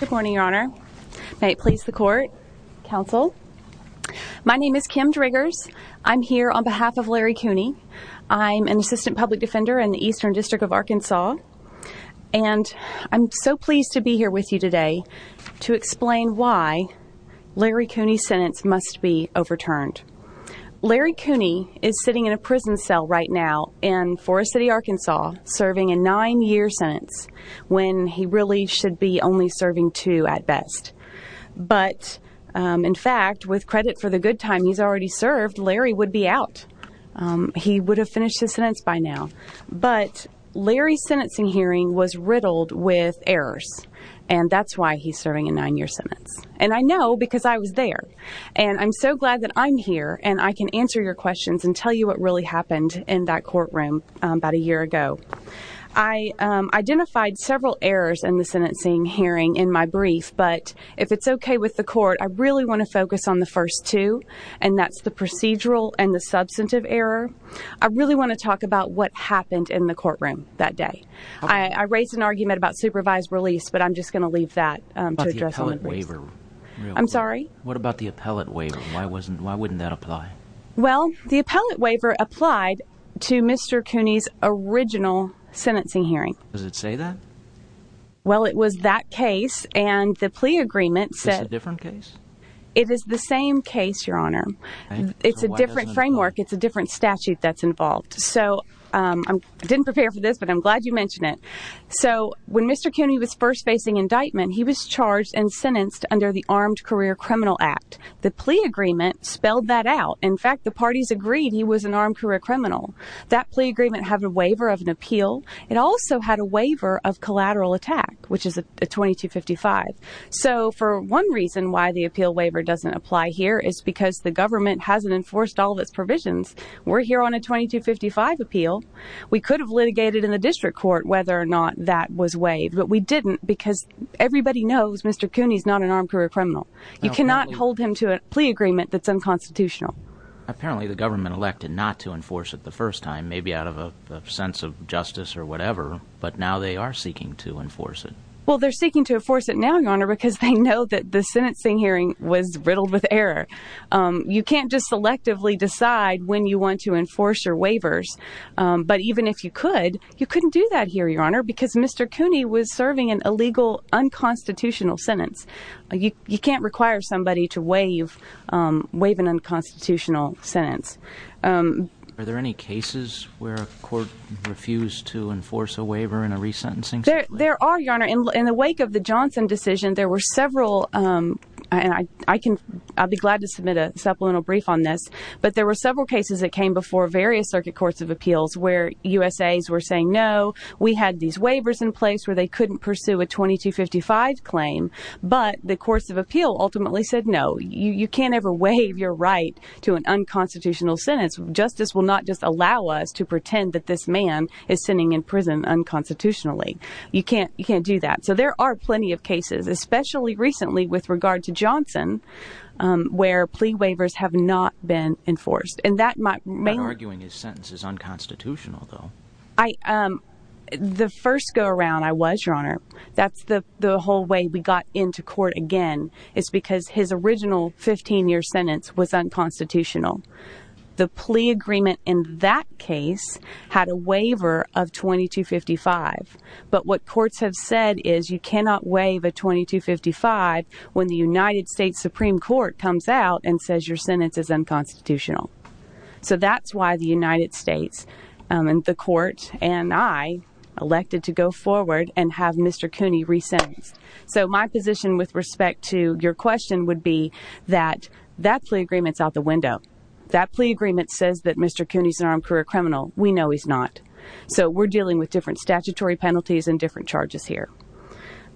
Good morning, your honor. May it please the court, counsel. My name is Kim Driggers. I'm here on behalf of Larry Cooney. I'm an assistant public defender in the Eastern District of Arkansas and I'm so pleased to be here with you today to explain why Larry Cooney's sentence must be overturned. Larry Cooney is sitting in a prison cell right now in Forest City, Arkansas serving a nine-year sentence when he really should be only serving two at best. But in fact, with credit for the good time he's already served, Larry would be out. He would have finished his sentence by now. But Larry's sentencing hearing was riddled with errors and that's why he's serving a nine-year sentence. And I know because I was there. And I'm so glad that I'm here and I can answer your questions and tell you what really happened in that courtroom about a year ago. I identified several errors in the sentencing hearing in my brief, but if it's okay with the court, I really want to focus on the first two and that's the procedural and the substantive error. I really want to talk about what happened in the courtroom that day. I raised an argument about supervised release, but I'm just going to leave that to address all the briefs. What about the appellate waiver? I'm sorry? What about the appellate waiver? Why wouldn't that apply? Well, the appellate waiver applied to Mr. Cooney's original sentencing hearing. Does it say that? Well, it was that case and the plea agreement said... Is this a different case? It is the same case, Your Honor. It's a different framework. It's a different statute that's involved. So I didn't prepare for this, but I'm glad you mentioned it. So when Mr. Cooney was first facing indictment, he was charged and sentenced under the Armed Career Criminal Act. The plea agreement spelled that out. In fact, the parties agreed he was an armed career criminal. That plea agreement had a waiver of an appeal. It also had a waiver of collateral attack, which is a 2255. So for one reason why the appeal waiver doesn't apply here is because the government hasn't enforced all of its provisions. We're here on a 2255 appeal. We could have litigated in the district court whether or not that was waived, but we didn't because everybody knows Mr. Cooney's not an armed career criminal. You cannot hold him to a plea agreement that's unconstitutional. Apparently, the government elected not to enforce it the first time, maybe out of a sense of justice or whatever, but now they are seeking to enforce it. Well, they're seeking to enforce it now, Your Honor, because they know that the sentencing hearing was riddled with error. You can't just selectively decide when you want to enforce your waivers, but even if you could, you couldn't do that here, Your Honor, because Mr. Cooney was serving an illegal unconstitutional sentence. You can't require somebody to waive an unconstitutional sentence. Are there any cases where a court refused to enforce a waiver in a resentencing? There are, Your Honor. In the wake of the Johnson decision, there were several, and I'll be glad to submit a supplemental brief on this, but there were several cases that came before various circuit courts of appeals where USAs were saying, no, we had these waivers in place where they couldn't pursue a 2255 claim, but the courts of appeal ultimately said, no, you can't ever waive your right to an unconstitutional sentence. Justice will not just allow us to pretend that this man is sitting in prison unconstitutionally. You can't do that. So there are plenty of cases, especially recently with regard to Johnson, where plea waivers have not been enforced. And that might mean... I'm not arguing his sentence is unconstitutional, though. I, um, the first go around I was, Your Honor, that's the whole way we got into court again is because his original 15-year sentence was unconstitutional. The plea agreement in that case had a waiver of 2255, but what courts have said is you cannot waive a 2255 when the United States Supreme Court comes out and says your sentence is unconstitutional. So that's why the United States, um, and the court and I elected to go forward and have Mr. Cooney re-sentenced. So my position with respect to your question would be that that plea agreement's out the window. That plea agreement says that Mr. Cooney's an armed career criminal. We know he's not. So we're dealing with different statutory penalties and different charges here.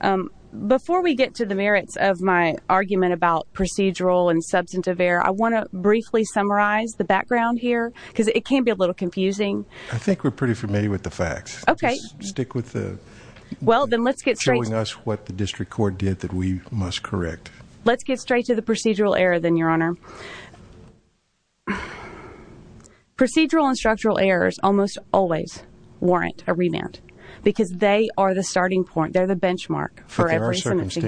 Um, before we get to the merits of my argument about procedural and substantive error, I apologize, the background here, because it can be a little confusing. I think we're pretty familiar with the facts. Okay. Stick with the... Well, then let's get straight... ...showing us what the district court did that we must correct. Let's get straight to the procedural error then, Your Honor. Procedural and structural errors almost always warrant a remand because they are the starting point. They're the benchmark for every sentence. But there are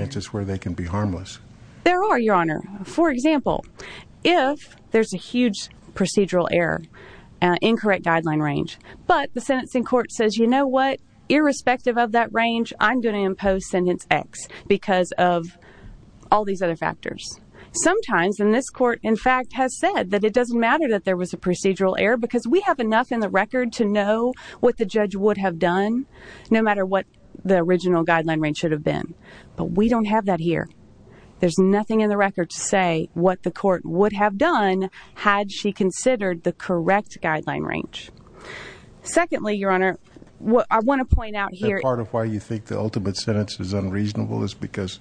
circumstances where they can be harmless. There are, Your Honor. For example, if there's a huge procedural error, an incorrect guideline range, but the sentencing court says, you know what? Irrespective of that range, I'm going to impose sentence X because of all these other factors. Sometimes, and this court in fact has said that it doesn't matter that there was a procedural error because we have enough in the record to know what the judge would have done, no matter what the original There's nothing in the record to say what the court would have done had she considered the correct guideline range. Secondly, Your Honor, I want to point out here... The part of why you think the ultimate sentence is unreasonable is because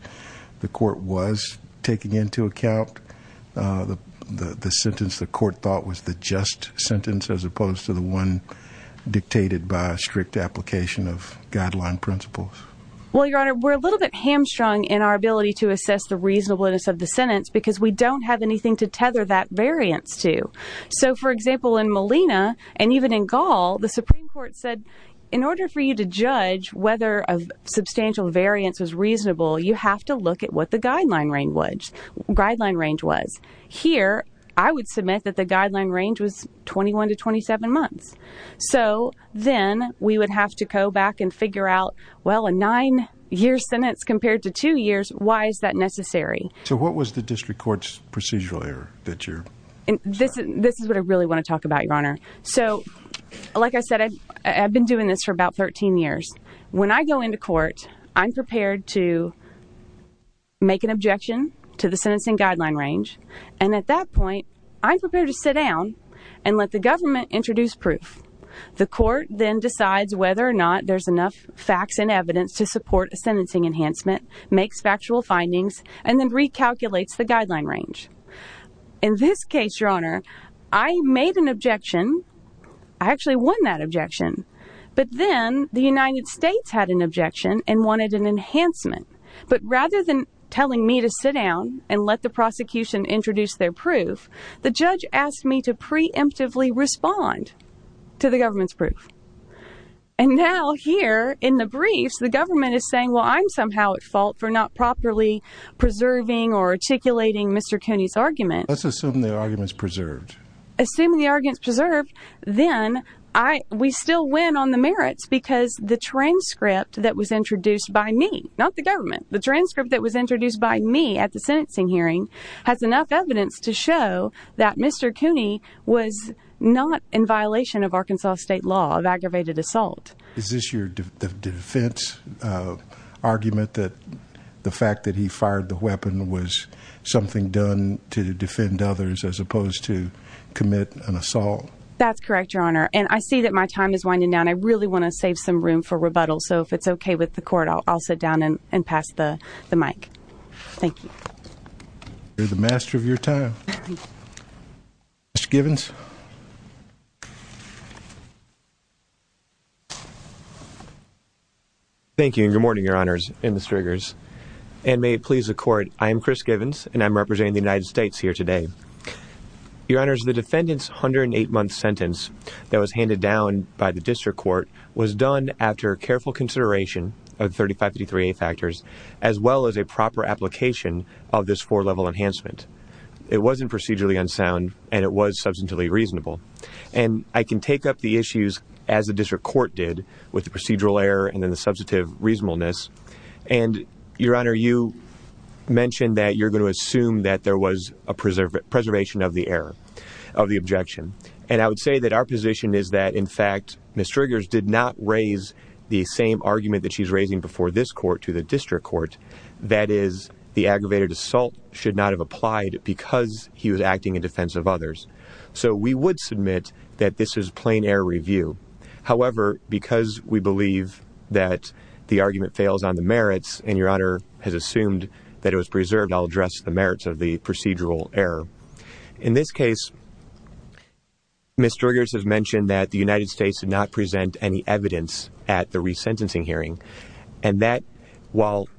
the court was taking into account the sentence the court thought was the just sentence as opposed to the one dictated by a strict application of guideline principles. Well, Your Honor, we're a little bit hamstrung in our ability to assess the reasonableness of the sentence because we don't have anything to tether that variance to. So, for example, in Molina and even in Gall, the Supreme Court said in order for you to judge whether a substantial variance was reasonable, you have to look at what the guideline range was. Here, I would submit that the guideline range was 21 to 27 months. So then we would have to go back and figure out, well, a nine-year sentence compared to two years, why is that necessary? So what was the district court's procedural error that you're... This is what I really want to talk about, Your Honor. So, like I said, I've been doing this for about 13 years. When I go into court, I'm prepared to make an objection to the sentencing guideline range. And at that point, I'm prepared to sit down and let the government introduce proof. The court then decides whether or not there's enough facts and evidence to support a sentencing enhancement, makes factual findings, and then recalculates the guideline range. In this case, Your Honor, I made an objection. I actually won that objection. But then the United States had an objection and wanted an enhancement. But rather than telling me to sit down and let the prosecution introduce their proof, the judge asked me to preemptively respond to the government's proof. And now, here, in the briefs, the government is saying, well, I'm somehow at fault for not properly preserving or articulating Mr. Cooney's argument. Let's assume the argument's preserved. Assuming the argument's preserved, then we still win on the merits because the transcript that was introduced by me, not the government, the transcript that was introduced by me at the sentencing hearing has enough evidence to show that Mr. Cooney was not in violation of Arkansas state law of aggravated assault. Is this your defense argument that the fact that he fired the weapon was something done to defend others as opposed to commit an assault? That's correct, Your Honor. And I see that my time is winding down. I really want to save some room for rebuttal. So if it's okay with the court, I'll sit down and pass the mic. Thank you. You're the master of your time. Mr. Givens? Thank you, and good morning, Your Honors and Ms. Riggers. And may it please the court, I am Chris Givens, and I'm representing the United States here today. Your Honors, the defendant's 108-month sentence that was handed down by the district court was done after careful consideration of the 3553A factors as well as a proper application of this four-level enhancement. It wasn't procedurally unsound, and it was substantively reasonable. And I can take up the issues as the district court did with the procedural error and then the substantive reasonableness. And, Your Honor, you mentioned that you're going to assume that there was a preservation of the error, of the objection. And I would say that our position is that, in fact, Ms. Riggers did not raise the same argument that she's raising before this court to the district court. That is, the aggravated assault should not have applied because he was acting in defense of others. So we would submit that this is plain error review. However, because we believe that the argument fails on the merits, and Your Honor has assumed that it was preserved, I'll address the merits of the procedural error. In this case, Ms. Riggers has mentioned that the United States did not present any evidence at the resentencing hearing. And that, while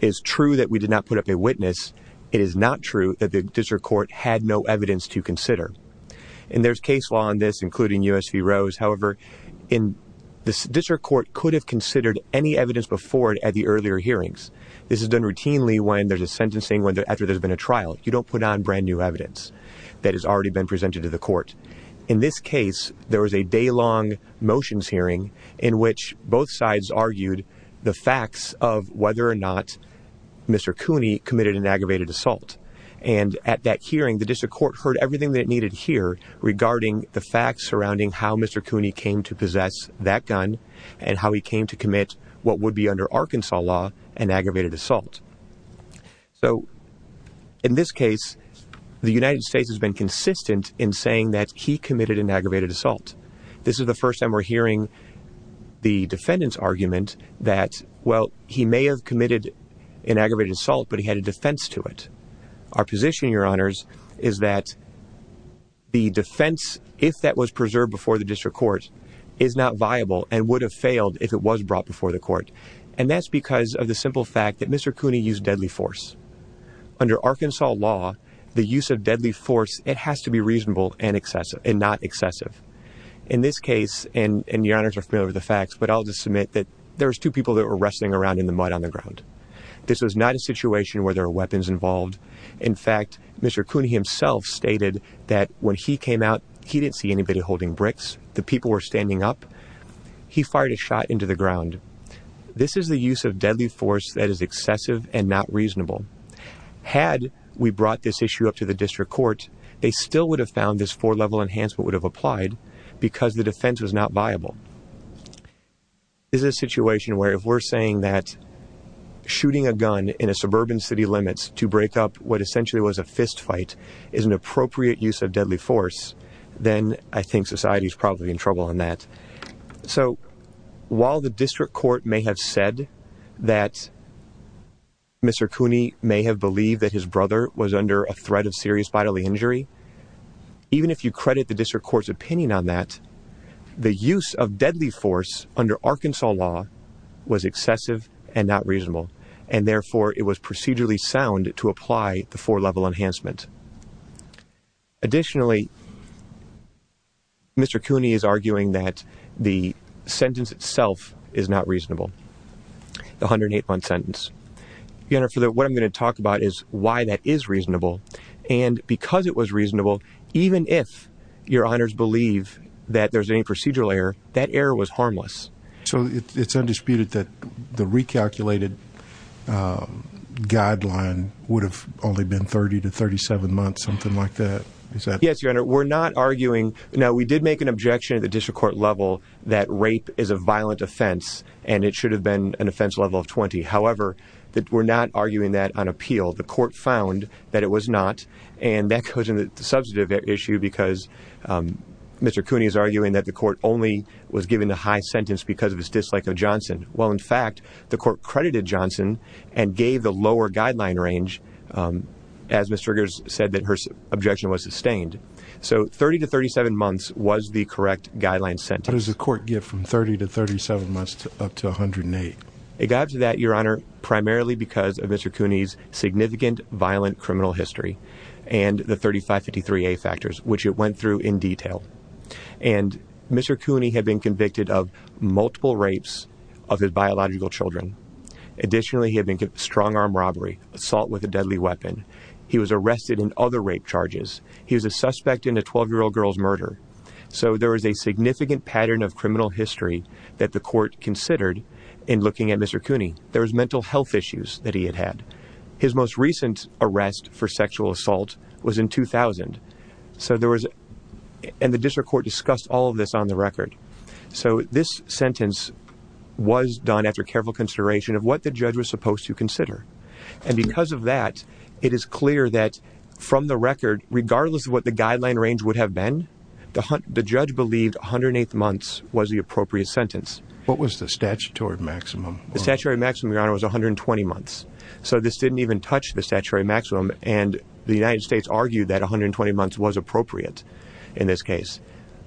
it is true that we did not put up a witness, it is not true that the district court had no evidence to consider. And there's case law on this, including U.S. v. Rose. However, the district court could have considered any evidence before it at the earlier hearings. This is done routinely when there's a sentencing after there's been a trial. You don't put on brand new evidence that has already been presented to the court. In this case, there was a day-long motions hearing in which both sides argued the facts of whether or not Mr. Cooney committed an aggravated assault. And at that hearing, the district court heard everything that it needed to hear regarding the facts surrounding how Mr. Cooney came to possess that gun and how he came to commit what would be under Arkansas law, an aggravated assault. So, in this case, the United States has been consistent in saying that he committed an aggravated assault. This is the first time we're hearing the defendant's argument that, well, he may have committed an aggravated assault, but he had a defense to it. Our position, Your Honors, is that the defense, if that was preserved before the district court, is not viable and would have failed if it was brought before the court. And that's because of the simple fact that Mr. Cooney used deadly force. Under Arkansas law, the use of deadly force, it has to be reasonable and not excessive. In this case, and Your Honors are familiar with the facts, but I'll just submit that there was two people that were wrestling around in the mud on the ground. This was not a situation where there were weapons involved. In fact, Mr. Cooney himself stated that when he came out, he didn't see anybody holding bricks. The people were standing up. He fired a shot into the ground. This is the use of deadly force that is excessive and not reasonable. Had we brought this issue up to the district court, they still would have found this four-level enhancement would have applied because the defense was not viable. This is a situation where if we're saying that shooting a gun in a suburban city limits to break up what essentially was a fist fight is an appropriate use of deadly force, then I think society is probably in trouble on that. So while the district court may have said that Mr. Cooney may have believed that his brother was under a threat of serious bodily injury, even if you credit the district court's opinion on that, the use of deadly force under Arkansas law was excessive and not reasonable, and therefore it was procedurally sound to apply the four-level enhancement. Additionally, Mr. Cooney is arguing that the sentence itself is not reasonable, the 108-month sentence. Your Honor, what I'm going to talk about is why that is reasonable, and because it was reasonable, even if your honors believe that there's any procedural error, that error was harmless. So it's undisputed that the recalculated guideline would have only been 30 to 37 months, something like that. Yes, Your Honor, we're not arguing. Now, we did make an objection at the district court level that rape is a violent offense, and it should have been an offense level of 20. However, we're not arguing that on appeal. The court found that it was not, and that goes into the substantive issue because Mr. Cooney is arguing that the court only was given the high sentence because of his dislike of Johnson. Well, in fact, the court credited Johnson and gave the lower guideline range as Mr. Griggs said that her objection was sustained. So 30 to 37 months was the correct guideline sentence. What does the court get from 30 to 37 months up to 108? It got to that, Your Honor, primarily because of Mr. Cooney's significant violent criminal history and the 3553A factors, which it went through in detail. And Mr. Cooney had been convicted of multiple rapes of his biological children. Additionally, he had been strong-arm robbery, assault with a deadly weapon. He was arrested in other rape charges. He was a suspect in a 12-year-old girl's murder. So there was a significant pattern of criminal history that the court considered in looking at Mr. Cooney. There was mental health issues that he had had. His most recent arrest for sexual assault was in 2000. So there was, and the district court discussed all of this on the record. So this sentence was done after careful consideration of what the judge was supposed to consider. And because of that, it is clear that from the record, regardless of what the guideline range would have been, the judge believed 108 months was the appropriate sentence. What was the statutory maximum? The statutory maximum, Your Honor, was 120 months. So this didn't even touch the statutory maximum. And the United States argued that 120 months was appropriate in this case.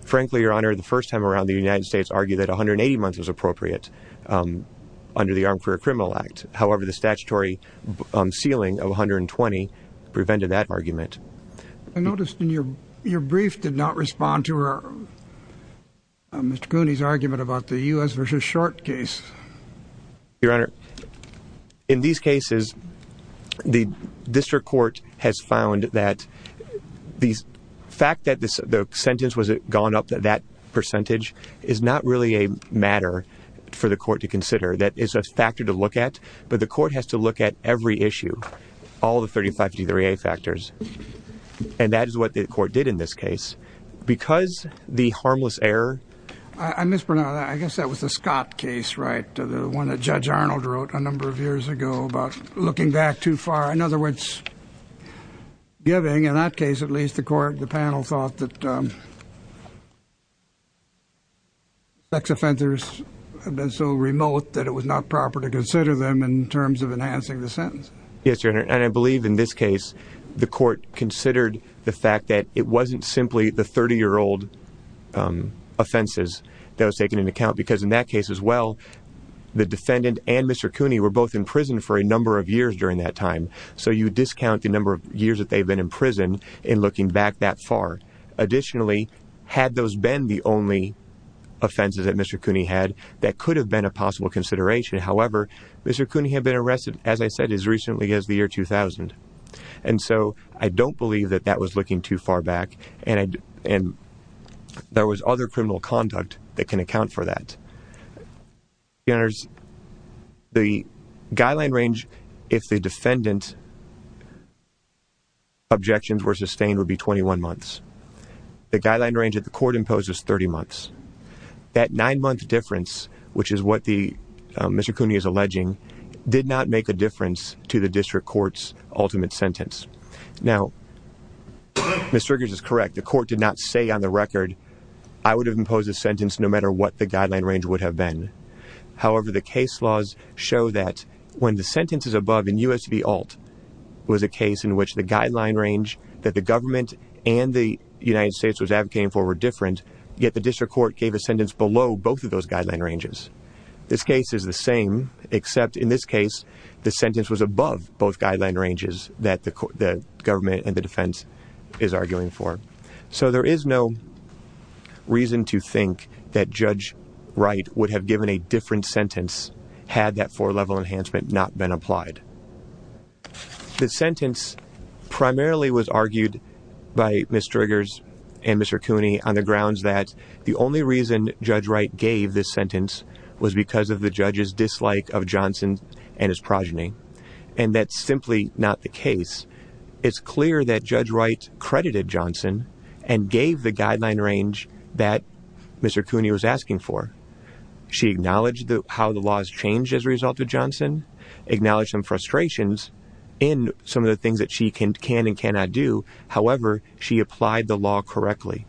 Frankly, Your Honor, the first time around, the United States argued that 180 months was appropriate under the Armed Career Criminal Act. However, the statutory ceiling of 120 prevented that argument. I noticed in your brief did not respond to Mr. Cooney's argument about the U.S. v. Short case. Your Honor, in these cases, the district court has found that the fact that the sentence was gone up to that percentage is not really a matter for the court to consider. That is a factor to look at. But the court has to look at every issue, all the 35 D3A factors. And that is what the Judge Arnold wrote a number of years ago about looking back too far. In other words, giving, in that case at least, the court, the panel thought that sex offenders have been so remote that it was not proper to consider them in terms of enhancing the sentence. Yes, Your Honor. And I believe in this case, the court considered the fact that it wasn't simply the 30-year-old offenses that was taken into account. Because in that case as well, the defendant and Mr. Cooney were both in prison for a number of years during that time. So you discount the number of years that they've been in prison in looking back that far. Additionally, had those been the only offenses that Mr. Cooney had, that could have been a possible consideration. However, Mr. Cooney had been arrested, as I said, as recently as the year 2000. And so I don't believe that that was looking too far back. And there was other criminal conduct that can account for that. Your Honors, the guideline range if the defendant's objections were sustained would be 21 months. The guideline range that the court imposes 30 months. That nine-month difference, which is what Mr. Cooney is alleging, did not make a difference to the district court's ultimate sentence. Now, Mr. Riggers is correct. The court did not say on the record, I would have imposed a sentence no matter what the guideline range would have been. However, the case laws show that when the sentence is above, in U.S. v. ALT, was a case in which the guideline range that the government and the United States was advocating for were different. Yet the district court gave a sentence below both of those guideline ranges. This case is the same, except in this case, the sentence was above both guideline ranges that the defense is arguing for. So there is no reason to think that Judge Wright would have given a different sentence had that four-level enhancement not been applied. The sentence primarily was argued by Mr. Riggers and Mr. Cooney on the grounds that the only reason Judge Wright gave this sentence was because of the judge's dislike of Johnson and his progeny. And that's simply not the case. It's clear that Judge Wright credited Johnson and gave the guideline range that Mr. Cooney was asking for. She acknowledged how the laws changed as a result of Johnson, acknowledged some frustrations in some of the things that she can and cannot do. However, she applied the law correctly.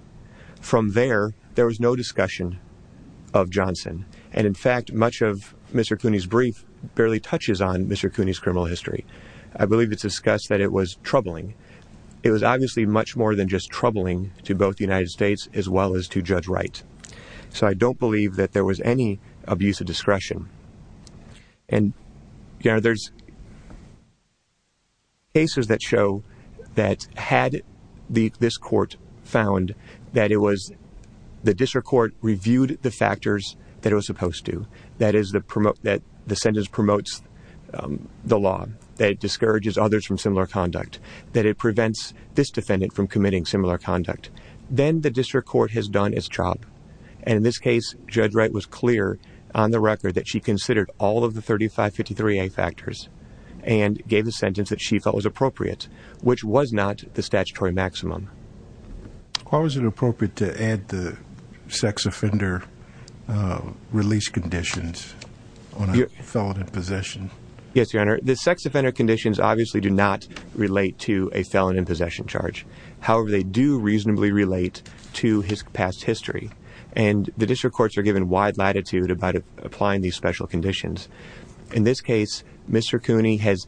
From there, there was no discussion of Johnson. And in fact, much of Mr. Cooney's criminal history. I believe it's discussed that it was troubling. It was obviously much more than just troubling to both the United States as well as to Judge Wright. So I don't believe that there was any abuse of discretion. And there's cases that show that had this court found that it was the district court reviewed the factors that it was supposed to. That is, that the sentence promotes the law, that it discourages others from similar conduct, that it prevents this defendant from committing similar conduct. Then the district court has done its job. And in this case, Judge Wright was clear on the record that she considered all of the 3553A factors and gave the sentence that she felt was appropriate, which was not the statutory maximum. Why was it appropriate to add the sex offender release conditions on a felon in possession? Yes, Your Honor. The sex offender conditions obviously do not relate to a felon in possession charge. However, they do reasonably relate to his past history. And the district courts are given wide latitude about applying these special conditions. In this case, Mr. Cooney has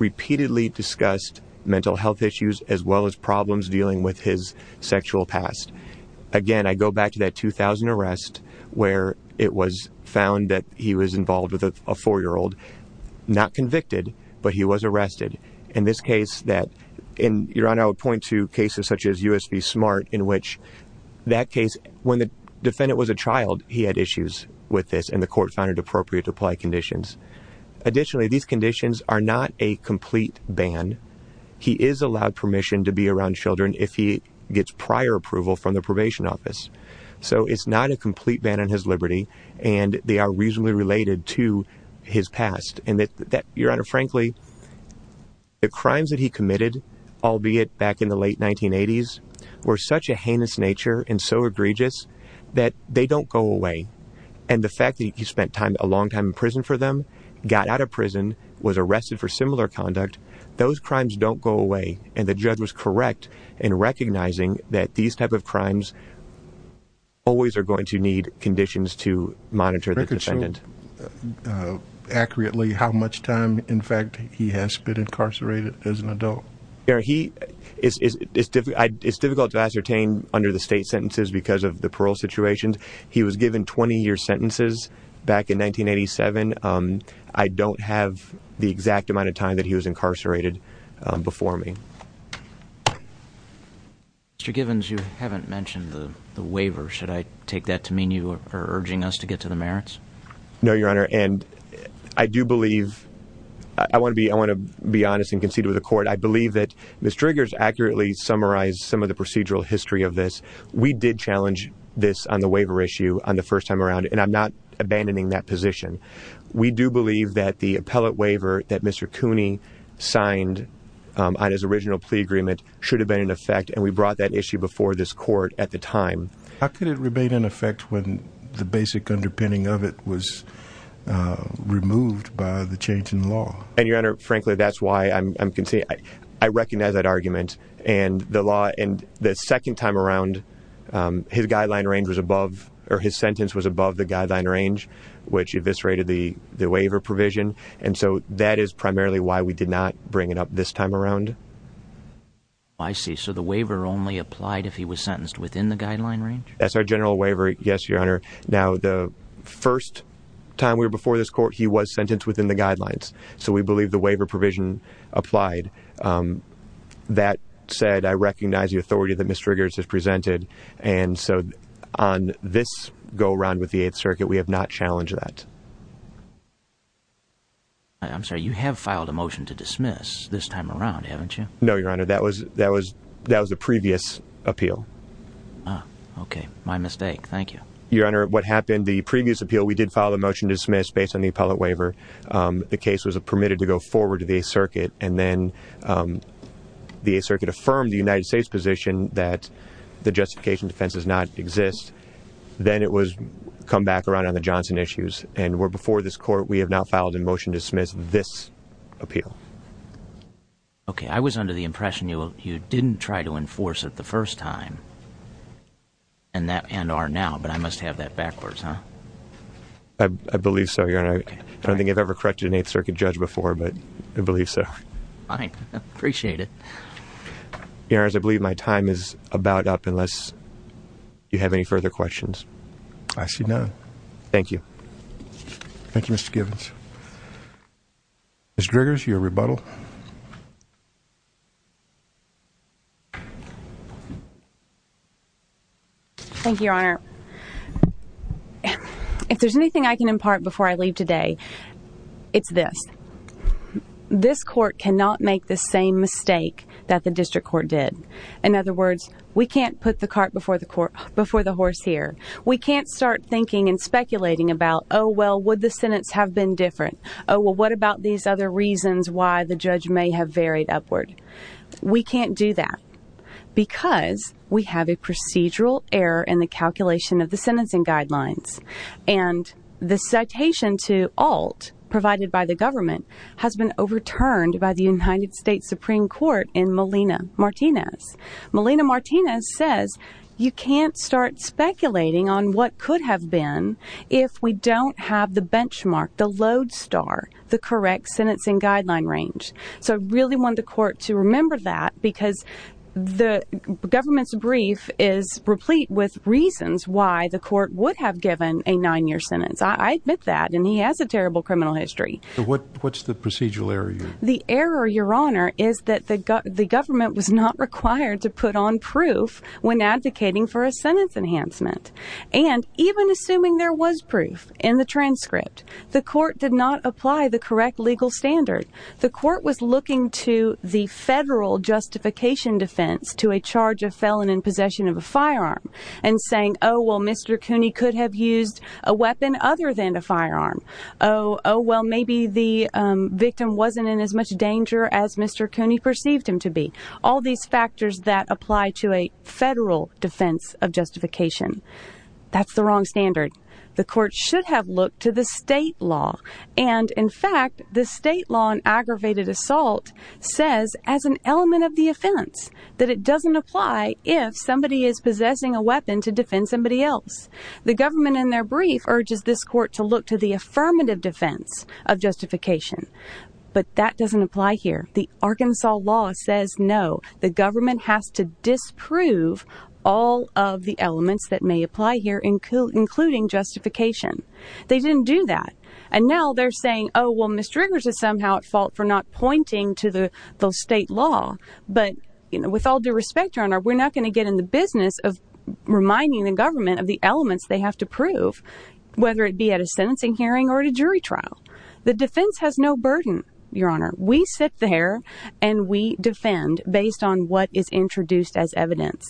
repeatedly discussed mental health issues as well as problems dealing with his sexual past. Again, I go back to that 2000 arrest where it was found that he was involved with a four-year-old, not convicted, but he was arrested. In this case that, and Your Honor, I would point to cases such as US v. Smart in which that case, when the defendant was a child, he had issues with this and the court found it appropriate to apply conditions. Additionally, these conditions are not a complete ban. He is allowed permission to be around children if he gets prior approval from the probation office. So it's not a complete ban on his liberty and they are reasonably related to his past. And that, Your Honor, frankly, the crimes that he committed, albeit back in the late 1980s, were such a heinous nature and so egregious that they don't go away. And the fact that he spent time, a long time in prison for them, got out of prison, was arrested for similar conduct, those crimes don't go away. And the judge was correct in recognizing that these type of crimes always are going to need conditions to monitor the defendant. Accurately, how much time, in fact, he has been incarcerated as an adult? Your Honor, it's difficult to ascertain under the state sentences because of the parole situations. He was given 20-year sentences back in 1987. I don't have the exact amount of time that he was incarcerated before me. Mr. Givens, you haven't mentioned the waiver. Should I take that to mean you are urging us to get to the merits? No, Your Honor. And I do believe, I want to be honest and concede with the court, I believe that Ms. Driggers accurately summarized some of the procedural history of this. We did challenge this on the waiver issue on the first time around and I'm not abandoning that position. We do believe that the appellate waiver that Mr. Cooney signed on his original plea agreement should have been in effect and we brought that issue before this time. How could it remain in effect when the basic underpinning of it was removed by the change in law? And Your Honor, frankly, that's why I'm conceding. I recognize that argument and the law and the second time around his guideline range was above or his sentence was above the guideline range which eviscerated the waiver provision and so that is primarily why we did not bring it up this time around. I see. So the waiver only applied if he was sentenced within the guideline range? That's our general waiver, yes, Your Honor. Now, the first time we were before this court, he was sentenced within the guidelines. So we believe the waiver provision applied. That said, I recognize the authority that Ms. Driggers has presented and so on this go-around with the Eighth Circuit, we have not challenged that. I'm sorry, you have filed a motion to dismiss this time around, haven't you? No, Your Honor. That was the previous appeal. Okay, my mistake. Thank you. Your Honor, what happened, the previous appeal, we did file a motion to dismiss based on the appellate waiver. The case was permitted to go forward to the Eighth Circuit and then the Eighth Circuit affirmed the United States position that the justification defense does not exist. Then it was come back around on the Johnson issues and we're before this court. We have now filed a motion to dismiss this appeal. Okay. I was under the impression you didn't try to enforce it the first time and are now, but I must have that backwards, huh? I believe so, Your Honor. I don't think I've ever corrected an Eighth Circuit judge before, but I believe so. Fine. Appreciate it. Your Honor, I believe my time is about up unless you have any further questions. I see none. Thank you. Thank you, Mr. Givens. Ms. Griggers, your rebuttal. Thank you, Your Honor. If there's anything I can impart before I leave today, it's this. This court cannot make the same mistake that the district court did. In other words, we can't put the cart before the horse here. We can't start thinking and speculating about, oh, well, would the sentence have been different? Oh, well, what about these other reasons why the judge may have varied upward? We can't do that because we have a procedural error in the calculation of the sentencing guidelines and the citation to alt provided by the government has been overturned by the United States Supreme Court in Melina Martinez. Melina Martinez says you can't start speculating on what could have been if we don't have the benchmark, the load star, the correct sentencing guideline range. So I really want the court to remember that because the government's brief is replete with reasons why the court would have given a nine year sentence. I admit that. And he has a terrible criminal history. What's the procedural error? The error, Your Honor, is that the government was not required to put on proof when advocating for sentence enhancement. And even assuming there was proof in the transcript, the court did not apply the correct legal standard. The court was looking to the federal justification defense to a charge of felon in possession of a firearm and saying, oh, well, Mr. Cooney could have used a weapon other than a firearm. Oh, well, maybe the victim wasn't in as much danger as Mr. Cooney perceived him to be. All these factors that apply to a federal defense of justification. That's the wrong standard. The court should have looked to the state law. And in fact, the state law on aggravated assault says as an element of the offense that it doesn't apply if somebody is possessing a weapon to defend somebody else. The government in their brief urges this court to look to the affirmative defense of justification. But that doesn't apply here. The Arkansas law says, no, the government has to disprove all of the elements that may apply here, including including justification. They didn't do that. And now they're saying, oh, well, Mr. Riggers is somehow at fault for not pointing to the state law. But with all due respect, Your Honor, we're not going to get in the business of reminding the government of the elements they have to prove, whether it be at a sentencing hearing or at a jury trial. The defense has no burden, Your Honor. We sit there and we defend based on what is introduced as evidence.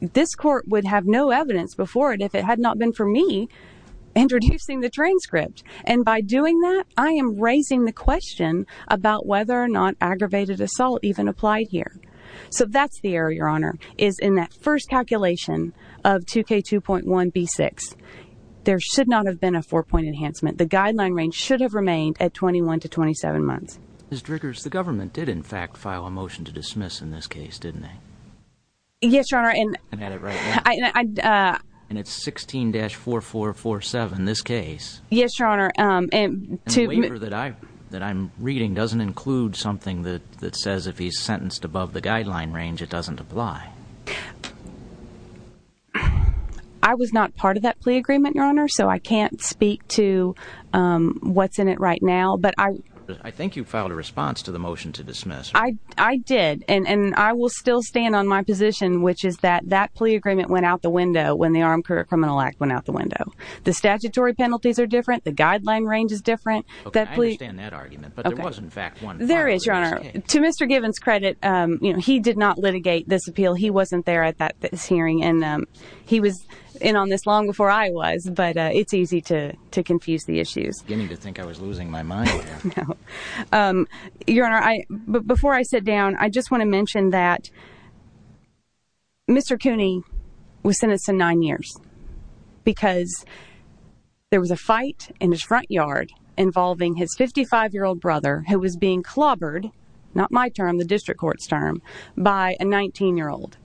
This court would have no evidence before it if it had not been for me introducing the transcript. And by doing that, I am raising the question about whether or not aggravated assault even applied here. So that's the error, Your Honor, is in that first calculation of 2k point enhancement. The guideline range should have remained at 21 to 27 months. Mr. Riggers, the government did, in fact, file a motion to dismiss in this case, didn't they? Yes, Your Honor. And it's 16-4447 in this case. Yes, Your Honor. And that I'm reading doesn't include something that says if he's sentenced above the guideline range, it doesn't apply. I was not part of that plea agreement, Your Honor, so I can't speak to what's in it right now. But I think you filed a response to the motion to dismiss. I did. And I will still stand on my position, which is that that plea agreement went out the window when the Armed Career Criminal Act went out the window. The statutory penalties are different. The guideline range is different. I understand that argument, but there was, in fact, one. There is, Your Honor. To Mr. Givens' credit, he did not litigate this appeal. He wasn't there at this hearing. And he was in on this long before I was, but it's easy to confuse the issues. I was beginning to think I was losing my mind. No. Your Honor, before I sit down, I just want to mention that Mr. Cooney was sentenced to nine years because there was a fight in his front yard involving his 55-year-old brother who was being clobbered, not my term, the district court's term, by a 19-year-old.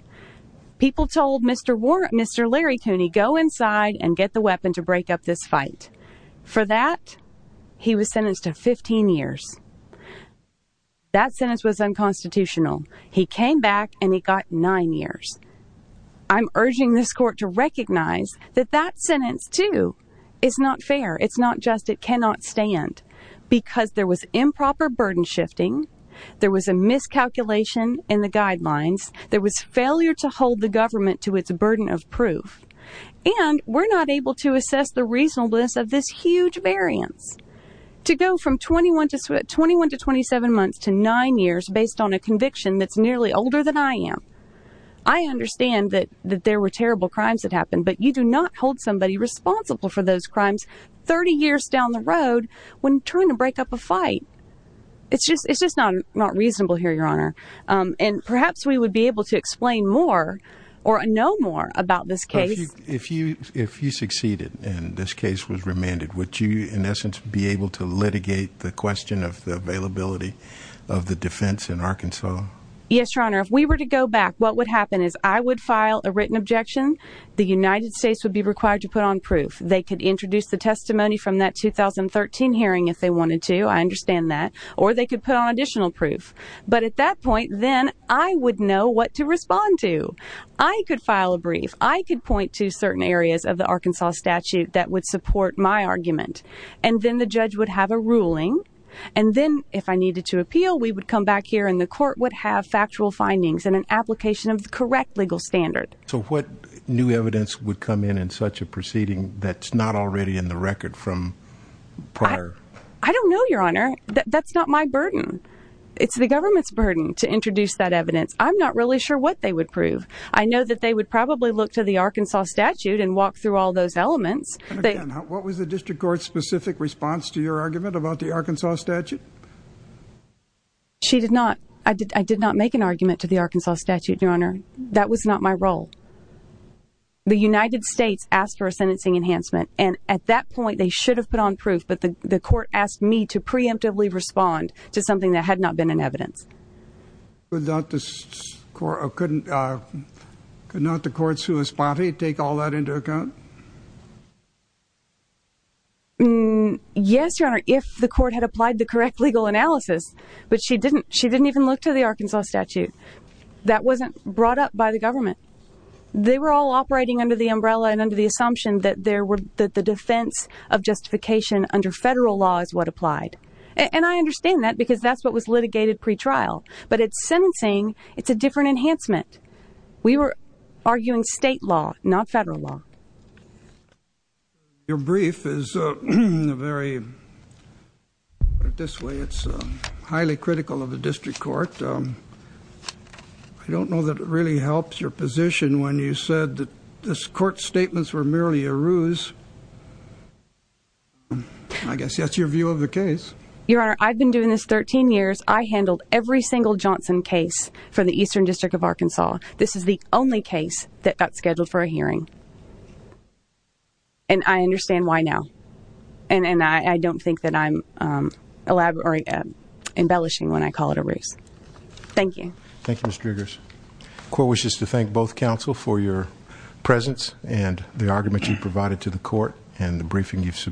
People told Mr. Larry Cooney, go inside and get the weapon to break up this fight. For that, he was sentenced to 15 years. That sentence was unconstitutional. He came back and he got nine years. I'm urging this court to recognize that that sentence, too, is not fair. It's not just it cannot stand because there was improper burden shifting. There was a miscalculation in the guidelines. There was failure to hold the government to its burden of proof. And we're not able to assess the reasonableness of this huge variance. To go from 21 to 27 months to nine years based on a conviction that's nearly older than I am. I understand that there were terrible crimes that turned to break up a fight. It's just not reasonable here, Your Honor. And perhaps we would be able to explain more or know more about this case. If you succeeded and this case was remanded, would you in essence be able to litigate the question of the availability of the defense in Arkansas? Yes, Your Honor. If we were to go back, what would happen is I would file a written objection. The United States would be required to put on proof. They could introduce the testimony from that 2013 hearing if they wanted to. I understand that. Or they could put on additional proof. But at that point, then I would know what to respond to. I could file a brief. I could point to certain areas of the Arkansas statute that would support my argument. And then the judge would have a ruling. And then if I needed to appeal, we would come back here and the court would have factual findings and an application of the correct legal standard. So what new evidence would come in in such a proceeding that's not already in the record from prior? I don't know, Your Honor. That's not my burden. It's the government's burden to introduce that evidence. I'm not really sure what they would prove. I know that they would probably look to the Arkansas statute and walk through all those elements. What was the district court's specific response to your argument about the Arkansas statute? She did not. I did not make an argument to the Arkansas statute, Your Honor. That was not my role. The United States asked for a sentencing enhancement. And at that point, they should have put on proof. But the court asked me to preemptively respond to something that had not been in evidence. Without this court, I couldn't could not the courts who is body take all that into account? Yes, Your Honor. If the court had applied the correct legal analysis, but she didn't. She didn't even look to the Arkansas statute. That wasn't brought up by the government. They were all operating under the umbrella and under the assumption that there were that the defense of justification under federal law is what applied. And I understand that because that's what was litigated pretrial. But it's sentencing. It's a different enhancement. We were arguing state law, not federal law. Your brief is very put it this way. It's highly critical of the district court. I don't know that it really helps your position when you said that this court statements were merely a ruse. I guess that's your view of the case. Your Honor, I've been doing this 13 years. I handled every single Johnson case for the Eastern District of Arkansas. This is the only case that got scheduled for a hearing. And I understand why now. And I don't think that I'm embellishing when I call it a race. Thank you. Thank you, Mr. Griggers. Court wishes to thank both counsel for your presence and the argument you provided to the court and the briefing you've